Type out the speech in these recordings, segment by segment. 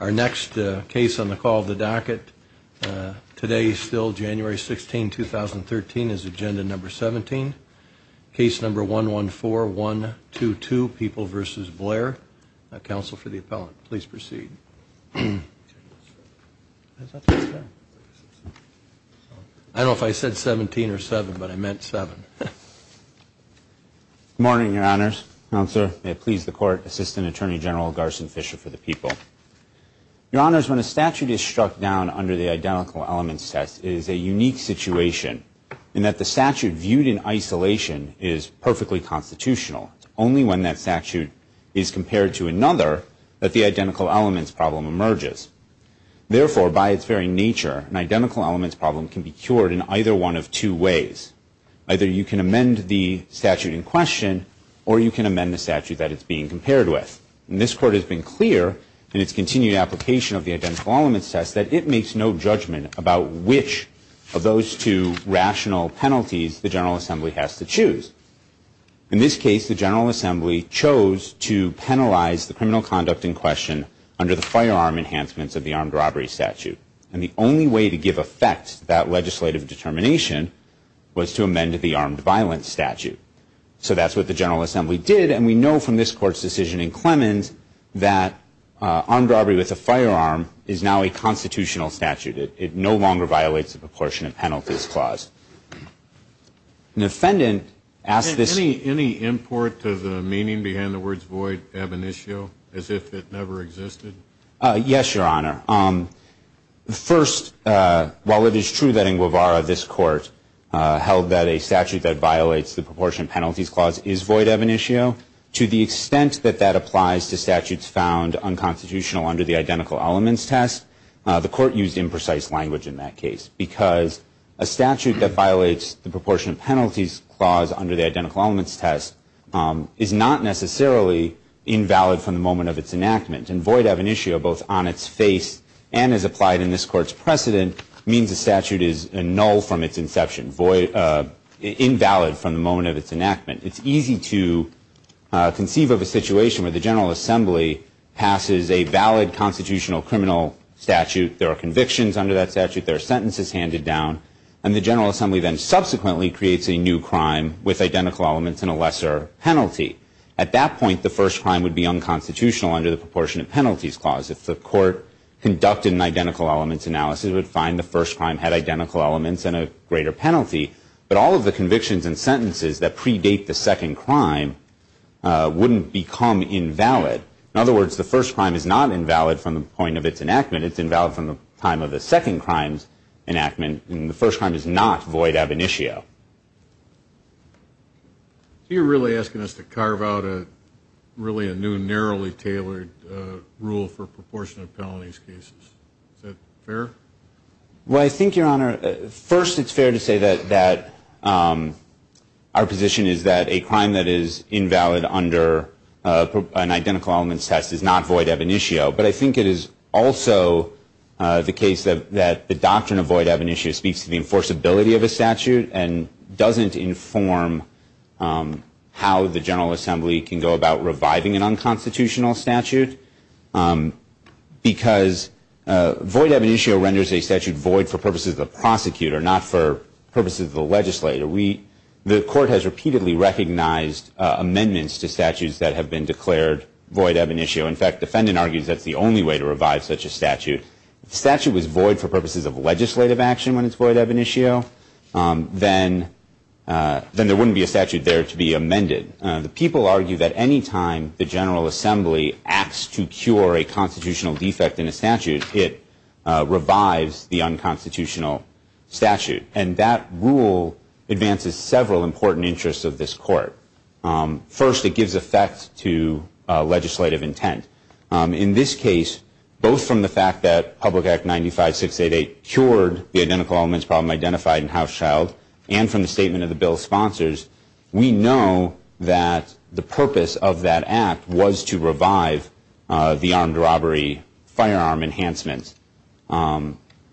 Our next case on the call of the docket, today still January 16, 2013, is agenda number 17, case number 114-122, People v. Blair. Counsel for the appellant, please proceed. I don't know if I said 17 or 7, but I meant 7. Good morning, your honors. Counsel, may it please the court, Assistant Attorney General Garson Fisher for the People. Your honors, when a statute is struck down under the identical elements test, it is a unique situation, in that the statute viewed in isolation is perfectly constitutional. It's only when that statute is compared to another that the identical elements problem emerges. Therefore, by its very nature, an identical elements problem can be cured in either one of two ways. Either you can amend the statute in question, or you can amend the statute that it's being compared with. And this court has been clear in its continued application of the identical elements test that it makes no judgment about which of those two rational penalties the General Assembly has to choose. In this case, the General Assembly chose to penalize the criminal conduct in question under the firearm enhancements of the armed robbery statute. And the only way to give effect to that legislative determination was to amend the armed violence statute. So that's what the General Assembly did, and we know from this court's decision in Clemens that armed robbery with a firearm is now a constitutional statute. It no longer violates the proportionate penalties clause. An offendant asked this. Any import to the meaning behind the words void ab initio, as if it never existed? Yes, Your Honor. First, while it is true that in Guevara this court held that a statute that violates the proportionate penalties clause is void ab initio, to the extent that that applies to statutes found unconstitutional under the identical elements test, the court used imprecise language in that case because a statute that violates the proportionate penalties clause under the identical elements test is not necessarily invalid from the moment of its enactment. And void ab initio, both on its face and as applied in this court's precedent, means a statute is null from its inception, invalid from the moment of its enactment. It's easy to conceive of a situation where the General Assembly passes a valid constitutional criminal statute. There are convictions under that statute. There are sentences handed down. And the General Assembly then subsequently creates a new crime with identical elements and a lesser penalty. At that point, the first crime would be unconstitutional under the proportionate penalties clause. If the court conducted an identical elements analysis, it would find the first crime had identical elements and a greater penalty. But all of the convictions and sentences that predate the second crime wouldn't become invalid. In other words, the first crime is not invalid from the point of its enactment. It's invalid from the time of the second crime's enactment. And the first crime is not void ab initio. So you're really asking us to carve out really a new, narrowly tailored rule for proportionate penalties cases. Is that fair? Well, I think, Your Honor, first it's fair to say that our position is that a crime that is invalid under an identical elements test is not void ab initio. But I think it is also the case that the doctrine of void ab initio speaks to the enforceability of a statute and doesn't inform how the General Assembly can go about reviving an unconstitutional statute. Because void ab initio renders a statute void for purposes of the prosecutor, not for purposes of the legislator. The court has repeatedly recognized amendments to statutes that have been declared void ab initio. In fact, defendant argues that's the only way to revive such a statute. If the statute was void for purposes of legislative action when it's void ab initio, then there wouldn't be a statute there to be amended. The people argue that any time the General Assembly acts to cure a constitutional defect in a statute, it revives the unconstitutional statute. And that rule advances several important interests of this court. First, it gives effect to legislative intent. In this case, both from the fact that Public Act 95-688 cured the identical elements problem identified in House Child and from the statement of the bill's sponsors, we know that the purpose of that act was to revive the armed robbery firearm enhancement.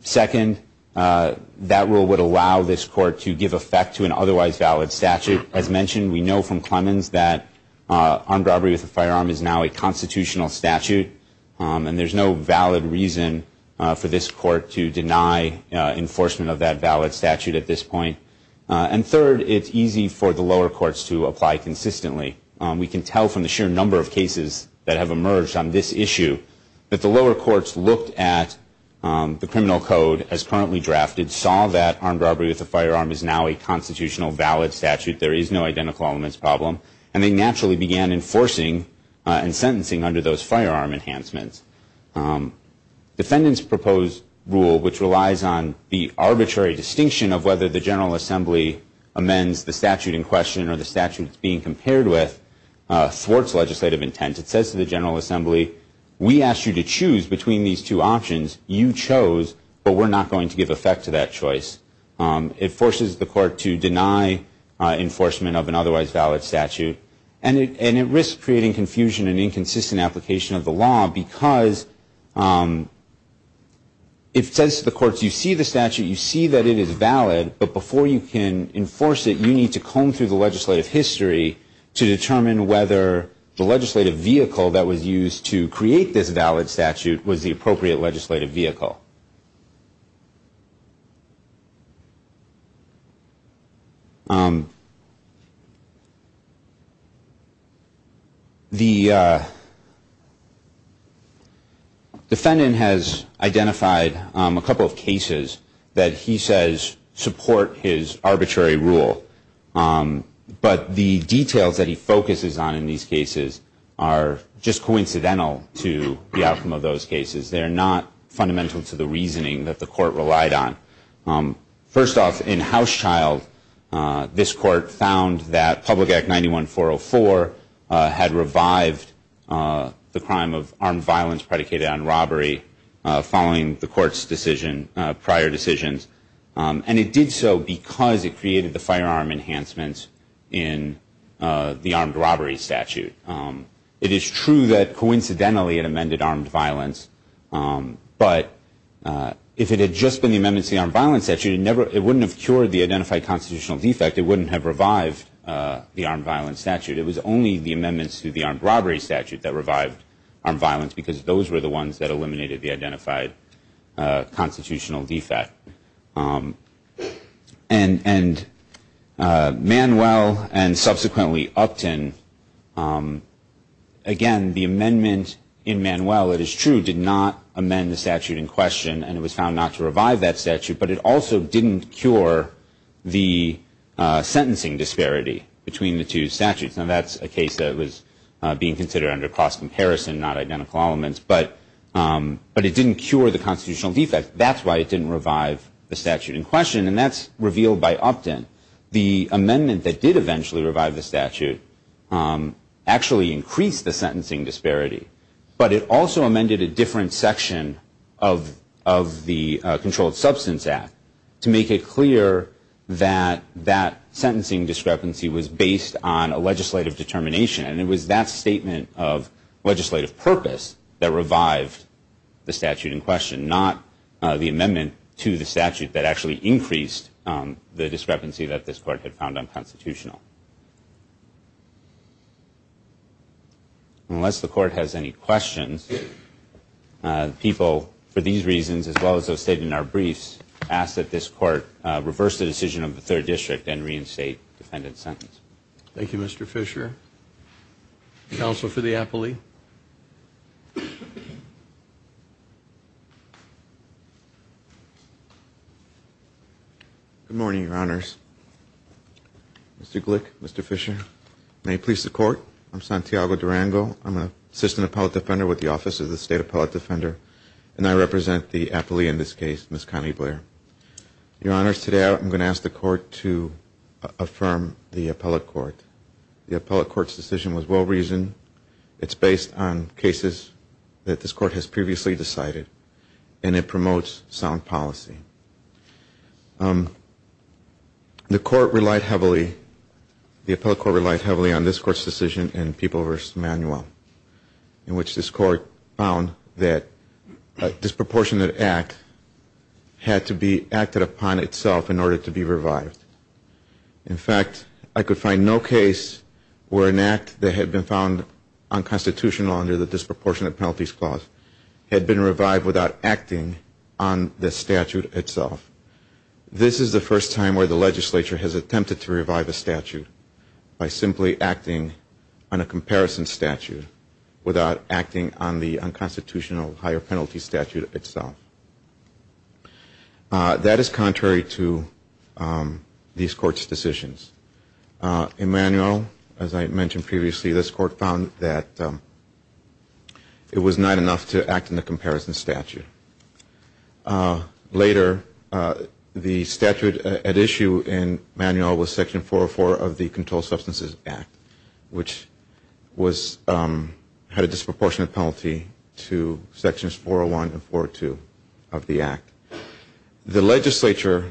Second, that rule would allow this court to give effect to an otherwise valid statute. As mentioned, we know from Clemens that armed robbery with a firearm is now a constitutional statute, and there's no valid reason for this court to deny enforcement of that valid statute at this point. And third, it's easy for the lower courts to apply consistently. We can tell from the sheer number of cases that have emerged on this issue that the lower courts looked at the criminal code as currently drafted, saw that armed robbery with a firearm is now a constitutional valid statute, there is no identical elements problem, and they naturally began enforcing and sentencing under those firearm enhancements. Defendants' proposed rule, which relies on the arbitrary distinction of whether the General Assembly amends the statute in question or the statute it's being compared with, thwarts legislative intent. It says to the General Assembly, we asked you to choose between these two options. You chose, but we're not going to give effect to that choice. It forces the court to deny enforcement of an otherwise valid statute, and it risks creating confusion and inconsistent application of the law because it says to the courts, you see the statute, you see that it is valid, but before you can enforce it, you need to comb through the legislative history to determine whether the legislative vehicle that was used to create this valid statute was the appropriate legislative vehicle. The defendant has identified a couple of cases that he says support his arbitrary rule, but the details that he focuses on in these cases are just coincidental to the outcome of those cases. They are not fundamental to the reasoning that the court relied on. First off, in Houschild, this court found that Public Act 91404 had revived the crime of armed violence predicated on robbery following the court's prior decisions, and it did so because it created the firearm enhancements in the armed robbery statute. It is true that coincidentally it amended armed violence, but if it had just been the amendments to the armed violence statute, it wouldn't have cured the identified constitutional defect. It wouldn't have revived the armed violence statute. It was only the amendments to the armed robbery statute that revived armed violence because those were the ones that eliminated the identified constitutional defect. And Manuel and subsequently Upton, again, the amendment in Manuel, it is true, did not amend the statute in question, and it was found not to revive that statute, but it also didn't cure the sentencing disparity between the two statutes. Now, that's a case that was being considered under cross-comparison, not identical elements, but it didn't cure the constitutional defect. That's why it didn't revive the statute in question, and that's revealed by Upton. The amendment that did eventually revive the statute actually increased the sentencing disparity, but it also amended a different section of the Controlled Substance Act to make it clear that that sentencing discrepancy was based on a legislative determination, and it was that statement of legislative purpose that revived the statute in question, not the amendment to the statute that actually increased the discrepancy that this court had found unconstitutional. Unless the court has any questions, people, for these reasons as well as those stated in our briefs, ask that this court reverse the decision of the third district and reinstate defendant's sentence. Thank you, Mr. Fisher. Counsel for the appellee. Good morning, Your Honors. Mr. Glick, Mr. Fisher. May it please the Court, I'm Santiago Durango. I'm an assistant appellate defender with the Office of the State Appellate Defender, and I represent the appellee in this case, Ms. Connie Blair. Your Honors, today I'm going to ask the Court to affirm the appellate court. The appellate court's decision was well-reasoned. It's based on cases that this court has previously decided, and it promotes sound policy. The court relied heavily, the appellate court relied heavily on this court's decision in People v. Manuel, in which this court found that a disproportionate act had to be acted upon itself in order to be revived. In fact, I could find no case where an act that had been found unconstitutional under the disproportionate penalties clause had been revived without acting on the statute itself. This is the first time where the legislature has attempted to revive a statute by simply acting on a comparison statute without acting on the unconstitutional higher penalty statute itself. That is contrary to this court's decisions. In Manuel, as I mentioned previously, this court found that it was not enough to act on the comparison statute. Later, the statute at issue in Manuel was Section 404 of the Controlled Substances Act, which had a disproportionate penalty to Sections 401 and 402 of the Act. The legislature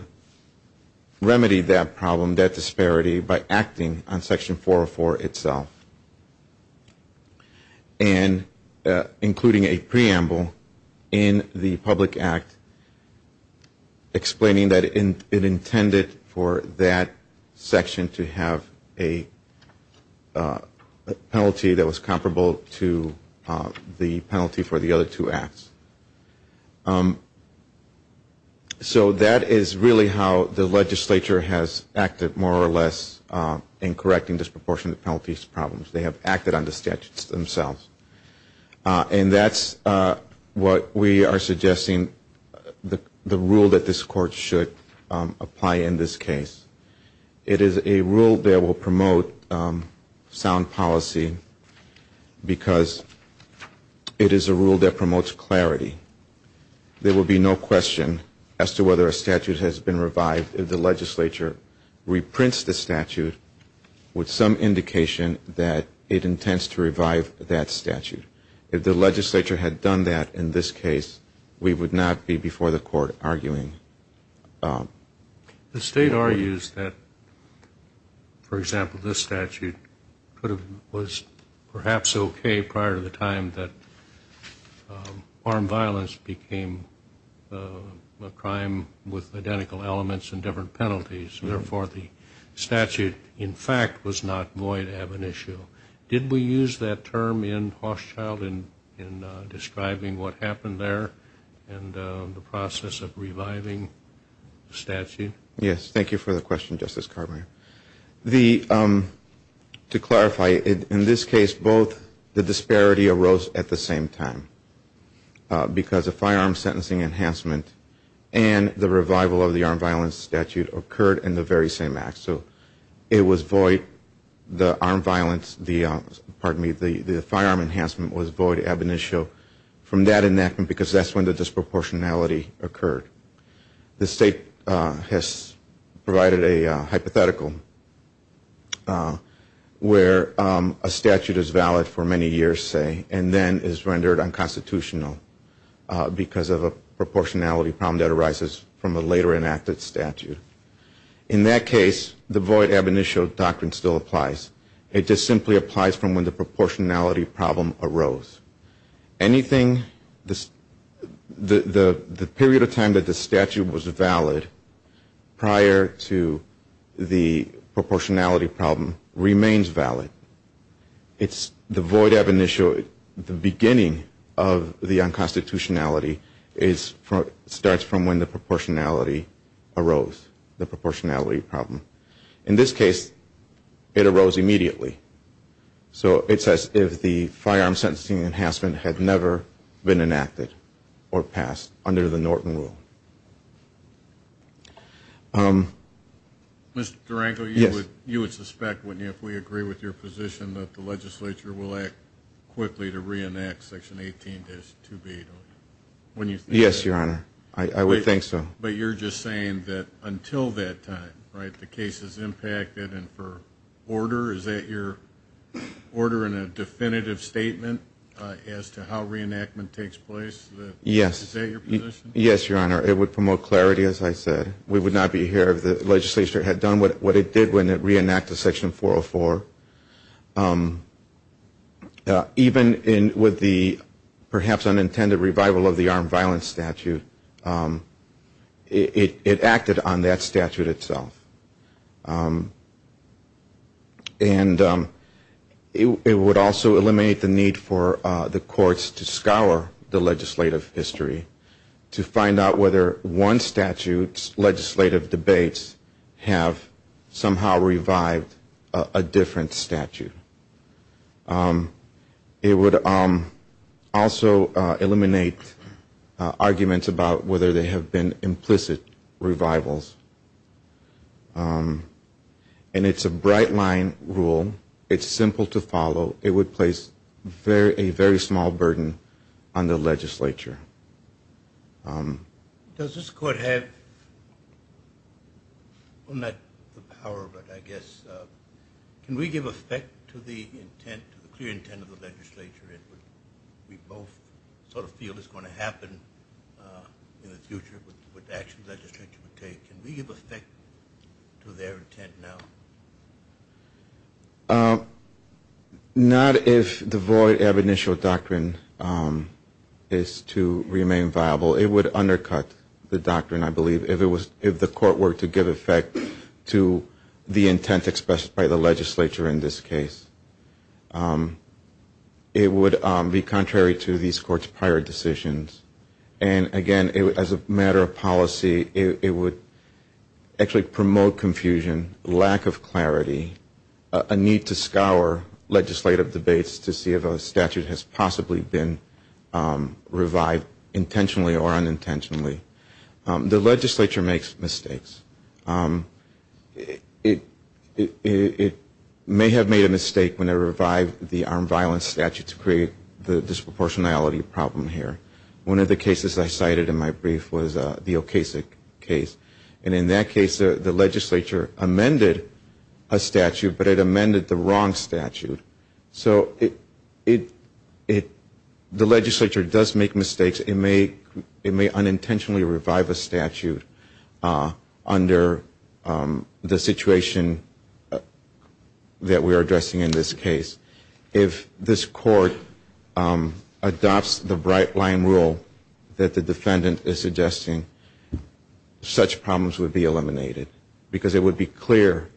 remedied that problem, that disparity, by acting on Section 404 itself, and including a preamble in the public act explaining that it intended for that section to have a penalty that was comparable to the penalty for the other two acts. So that is really how the legislature has acted, more or less, in correcting disproportionate penalties problems. They have acted on the statutes themselves. And that's what we are suggesting the rule that this court should apply in this case. It is a rule that will promote sound policy because it is a rule that promotes clarity. There will be no question as to whether a statute has been revived if the legislature reprints the statute with some indication that it intends to revive that statute. If the legislature had done that in this case, we would not be before the court arguing. The State argues that, for example, this statute was perhaps okay prior to the time that armed violence became a crime with identical elements and different penalties. Therefore, the statute, in fact, was not void ab initio. Did we use that term in Horschild in describing what happened there and the process of reviving the statute? Yes. Thank you for the question, Justice Carbine. To clarify, in this case both the disparity arose at the same time because a firearm sentencing enhancement and the revival of the armed violence statute occurred in the very same act. So it was void, the armed violence, pardon me, the firearm enhancement was void ab initio from that enactment because that's when the disproportionality occurred. The State has provided a hypothetical where a statute is valid for many years, say, and then is rendered unconstitutional because of a proportionality problem that arises from a later enacted statute. In that case, the void ab initio doctrine still applies. It just simply applies from when the proportionality problem arose. Anything, the period of time that the statute was valid prior to the proportionality problem remains valid. It's the void ab initio, the beginning of the unconstitutionality starts from when the proportionality arose, the proportionality problem. In this case, it arose immediately. So it's as if the firearm sentencing enhancement had never been enacted or passed under the Norton Rule. Mr. Durango, you would suspect, wouldn't you, if we agree with your position, that the legislature will act quickly to reenact Section 18-2B, don't you? Wouldn't you think that? Yes, Your Honor. I would think so. But you're just saying that until that time, right, the case is impacted and for order, is that your order in a definitive statement as to how reenactment takes place? Yes. Is that your position? Yes, Your Honor. It would promote clarity, as I said. We would not be here if the legislature had done what it did when it reenacted Section 404. Even with the perhaps unintended revival of the armed violence statute, it acted on that statute itself. And it would also eliminate the need for the courts to scour the legislative history to find out whether one statute's legislative debates have somehow revived a different statute. It would also eliminate arguments about whether they have been implicit revivals. And it's a bright-line rule. It's simple to follow. It would place a very small burden on the legislature. Does this court have, well, not the power, but I guess, can we give effect to the intent, the clear intent of the legislature in which we both sort of feel is going to happen in the future with actions the legislature would take? Can we give effect to their intent now? Not if the void of initial doctrine is to remain viable. It would undercut the doctrine, I believe, if the court were to give effect to the intent expressed by the legislature in this case. It would be contrary to these courts' prior decisions. And again, as a matter of policy, it would actually promote confusion, lack of clarity, a need to scour legislative debates to see if a statute has possibly been revived intentionally or unintentionally. The legislature makes mistakes. It may have made a mistake when it revived the armed violence statute to create the disproportionality problem here. One of the cases I cited in my brief was the Okasik case. And in that case, the legislature amended a statute, but it amended the wrong statute. So the legislature does make mistakes. It may unintentionally revive a statute under the situation that we are addressing in this case. If this court adopts the bright-line rule that the defendant is suggesting, such problems would be eliminated because it would be clear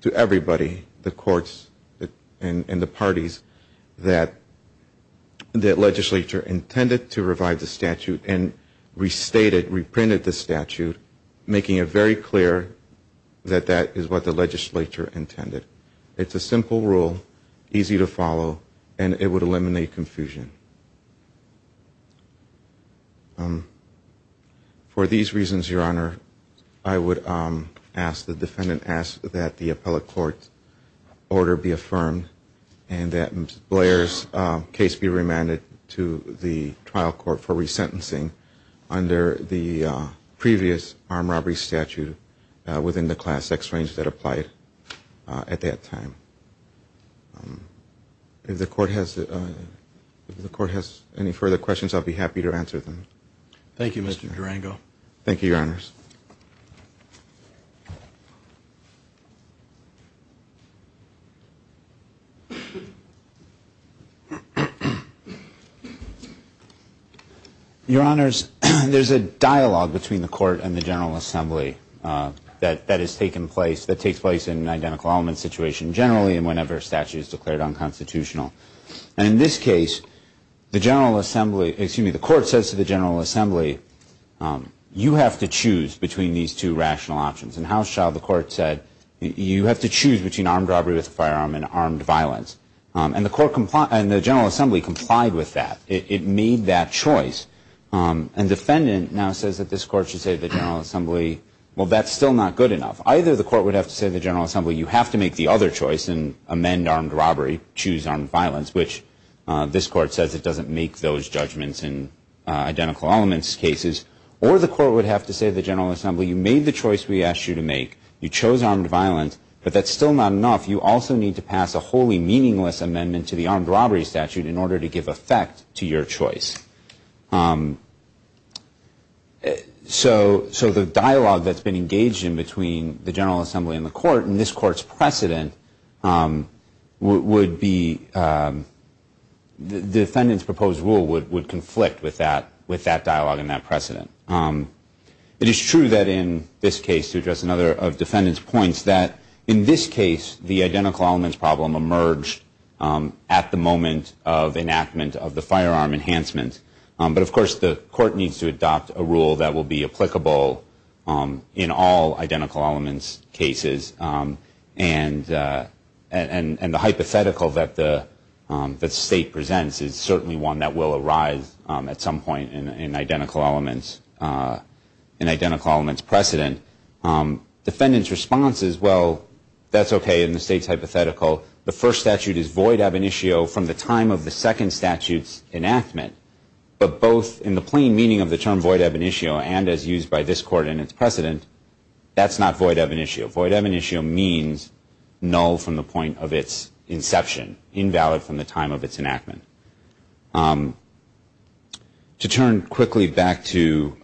to everybody, the courts and the parties, that the legislature intended to revive the statute and restated, reprinted the statute, making it very clear that that is what the legislature intended. It's a simple rule, easy to follow, and it would eliminate confusion. For these reasons, Your Honor, I would ask that the appellate court's order be affirmed and that Blair's case be remanded to the trial court for resentencing under the previous armed robbery statute within the class X range that applied at that time. If the court has any further questions, I'll be happy to answer them. Thank you, Mr. Durango. Thank you, Your Honors. Your Honors, there's a dialogue between the court and the General Assembly that has taken place, that takes place in an identical element situation generally and whenever a statute is declared unconstitutional. And in this case, the General Assembly, excuse me, the court says to the General Assembly, you have to choose between these two rational options. In House Child, the court said you have to choose between armed robbery with a firearm and armed violence. And the General Assembly complied with that. It made that choice, and the defendant now says that this court should say to the General Assembly, well, that's still not good enough. Either the court would have to say to the General Assembly, you have to make the other choice and amend armed robbery, choose armed violence, which this court says it doesn't make those judgments in identical elements cases, or the court would have to say to the General Assembly, you made the choice we asked you to make. You chose armed violence, but that's still not enough. You also need to pass a wholly meaningless amendment to the armed robbery statute in order to give effect to your choice. So the dialogue that's been engaged in between the General Assembly and the court, and this court's precedent would be the defendant's proposed rule would conflict with that dialogue and that precedent. It is true that in this case, to address another of the defendant's points, that in this case the identical elements problem emerged at the moment of enactment of the firearm enhancement. But, of course, the court needs to adopt a rule that will be applicable in all identical elements cases. And the hypothetical that the state presents is certainly one that will arise at some point in identical elements precedent. Defendant's response is, well, that's okay in the state's hypothetical. The first statute is void ab initio from the time of the second statute's enactment. But both in the plain meaning of the term void ab initio and as used by this court in its precedent, that's not void ab initio. Void ab initio means null from the point of its inception, invalid from the time of its enactment. To turn quickly back to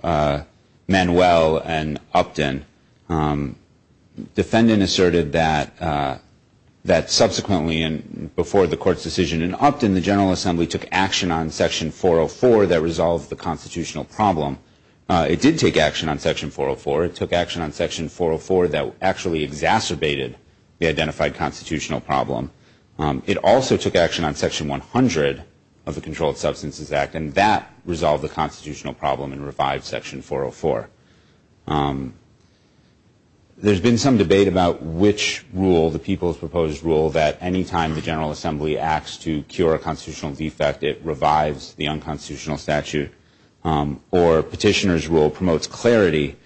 Manuel and Upton, defendant asserted that subsequently and before the court's decision in Upton, the General Assembly took action on section 404 that resolved the constitutional problem. It did take action on section 404. It took action on section 404 that actually exacerbated the identified constitutional problem. It also took action on section 100 of the Controlled Substances Act, and that resolved the constitutional problem and revived section 404. There's been some debate about which rule, the people's proposed rule, that any time the General Assembly acts to cure a constitutional defect, it revives the unconstitutional statute, or petitioner's rule promotes clarity.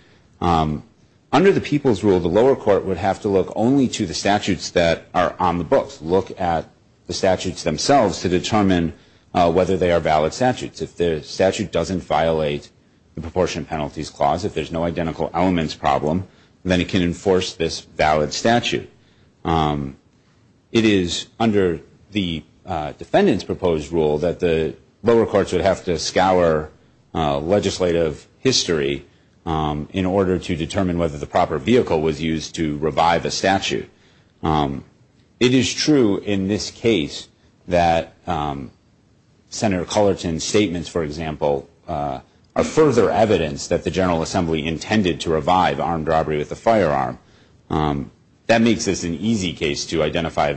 Under the people's rule, the lower court would have to look only to the statutes that are on the books, look at the statutes themselves to determine whether they are valid statutes. If the statute doesn't violate the Proportion Penalties Clause, if there's no identical elements problem, then it can enforce this valid statute. It is under the defendant's proposed rule that the lower courts would have to scour legislative history in order to determine whether the proper vehicle was used to revive a statute. It is true in this case that Senator Cullerton's statements, for example, are further evidence that the General Assembly intended to revive armed robbery with a firearm. That makes this an especially easy case to identify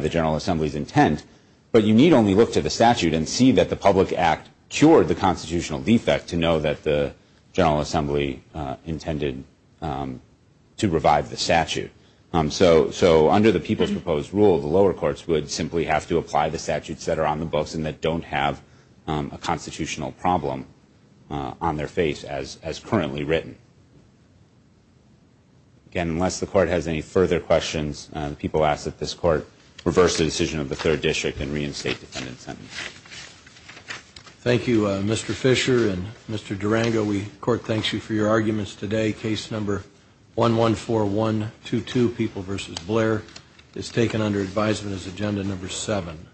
the General Assembly's intent, but you need only look to the statute and see that the public act cured the constitutional defect to know that the General Assembly intended to revive the statute. So under the people's proposed rule, the lower courts would simply have to apply the statutes that are on the books and that don't have a constitutional problem on their face as currently written. Again, unless the court has any further questions, the people ask that this court reverse the decision of the Third District and reinstate defendant's sentence. Thank you, Mr. Fisher and Mr. Durango. The court thanks you for your arguments today. Case number 114122, People v. Blair, is taken under advisement as agenda number seven.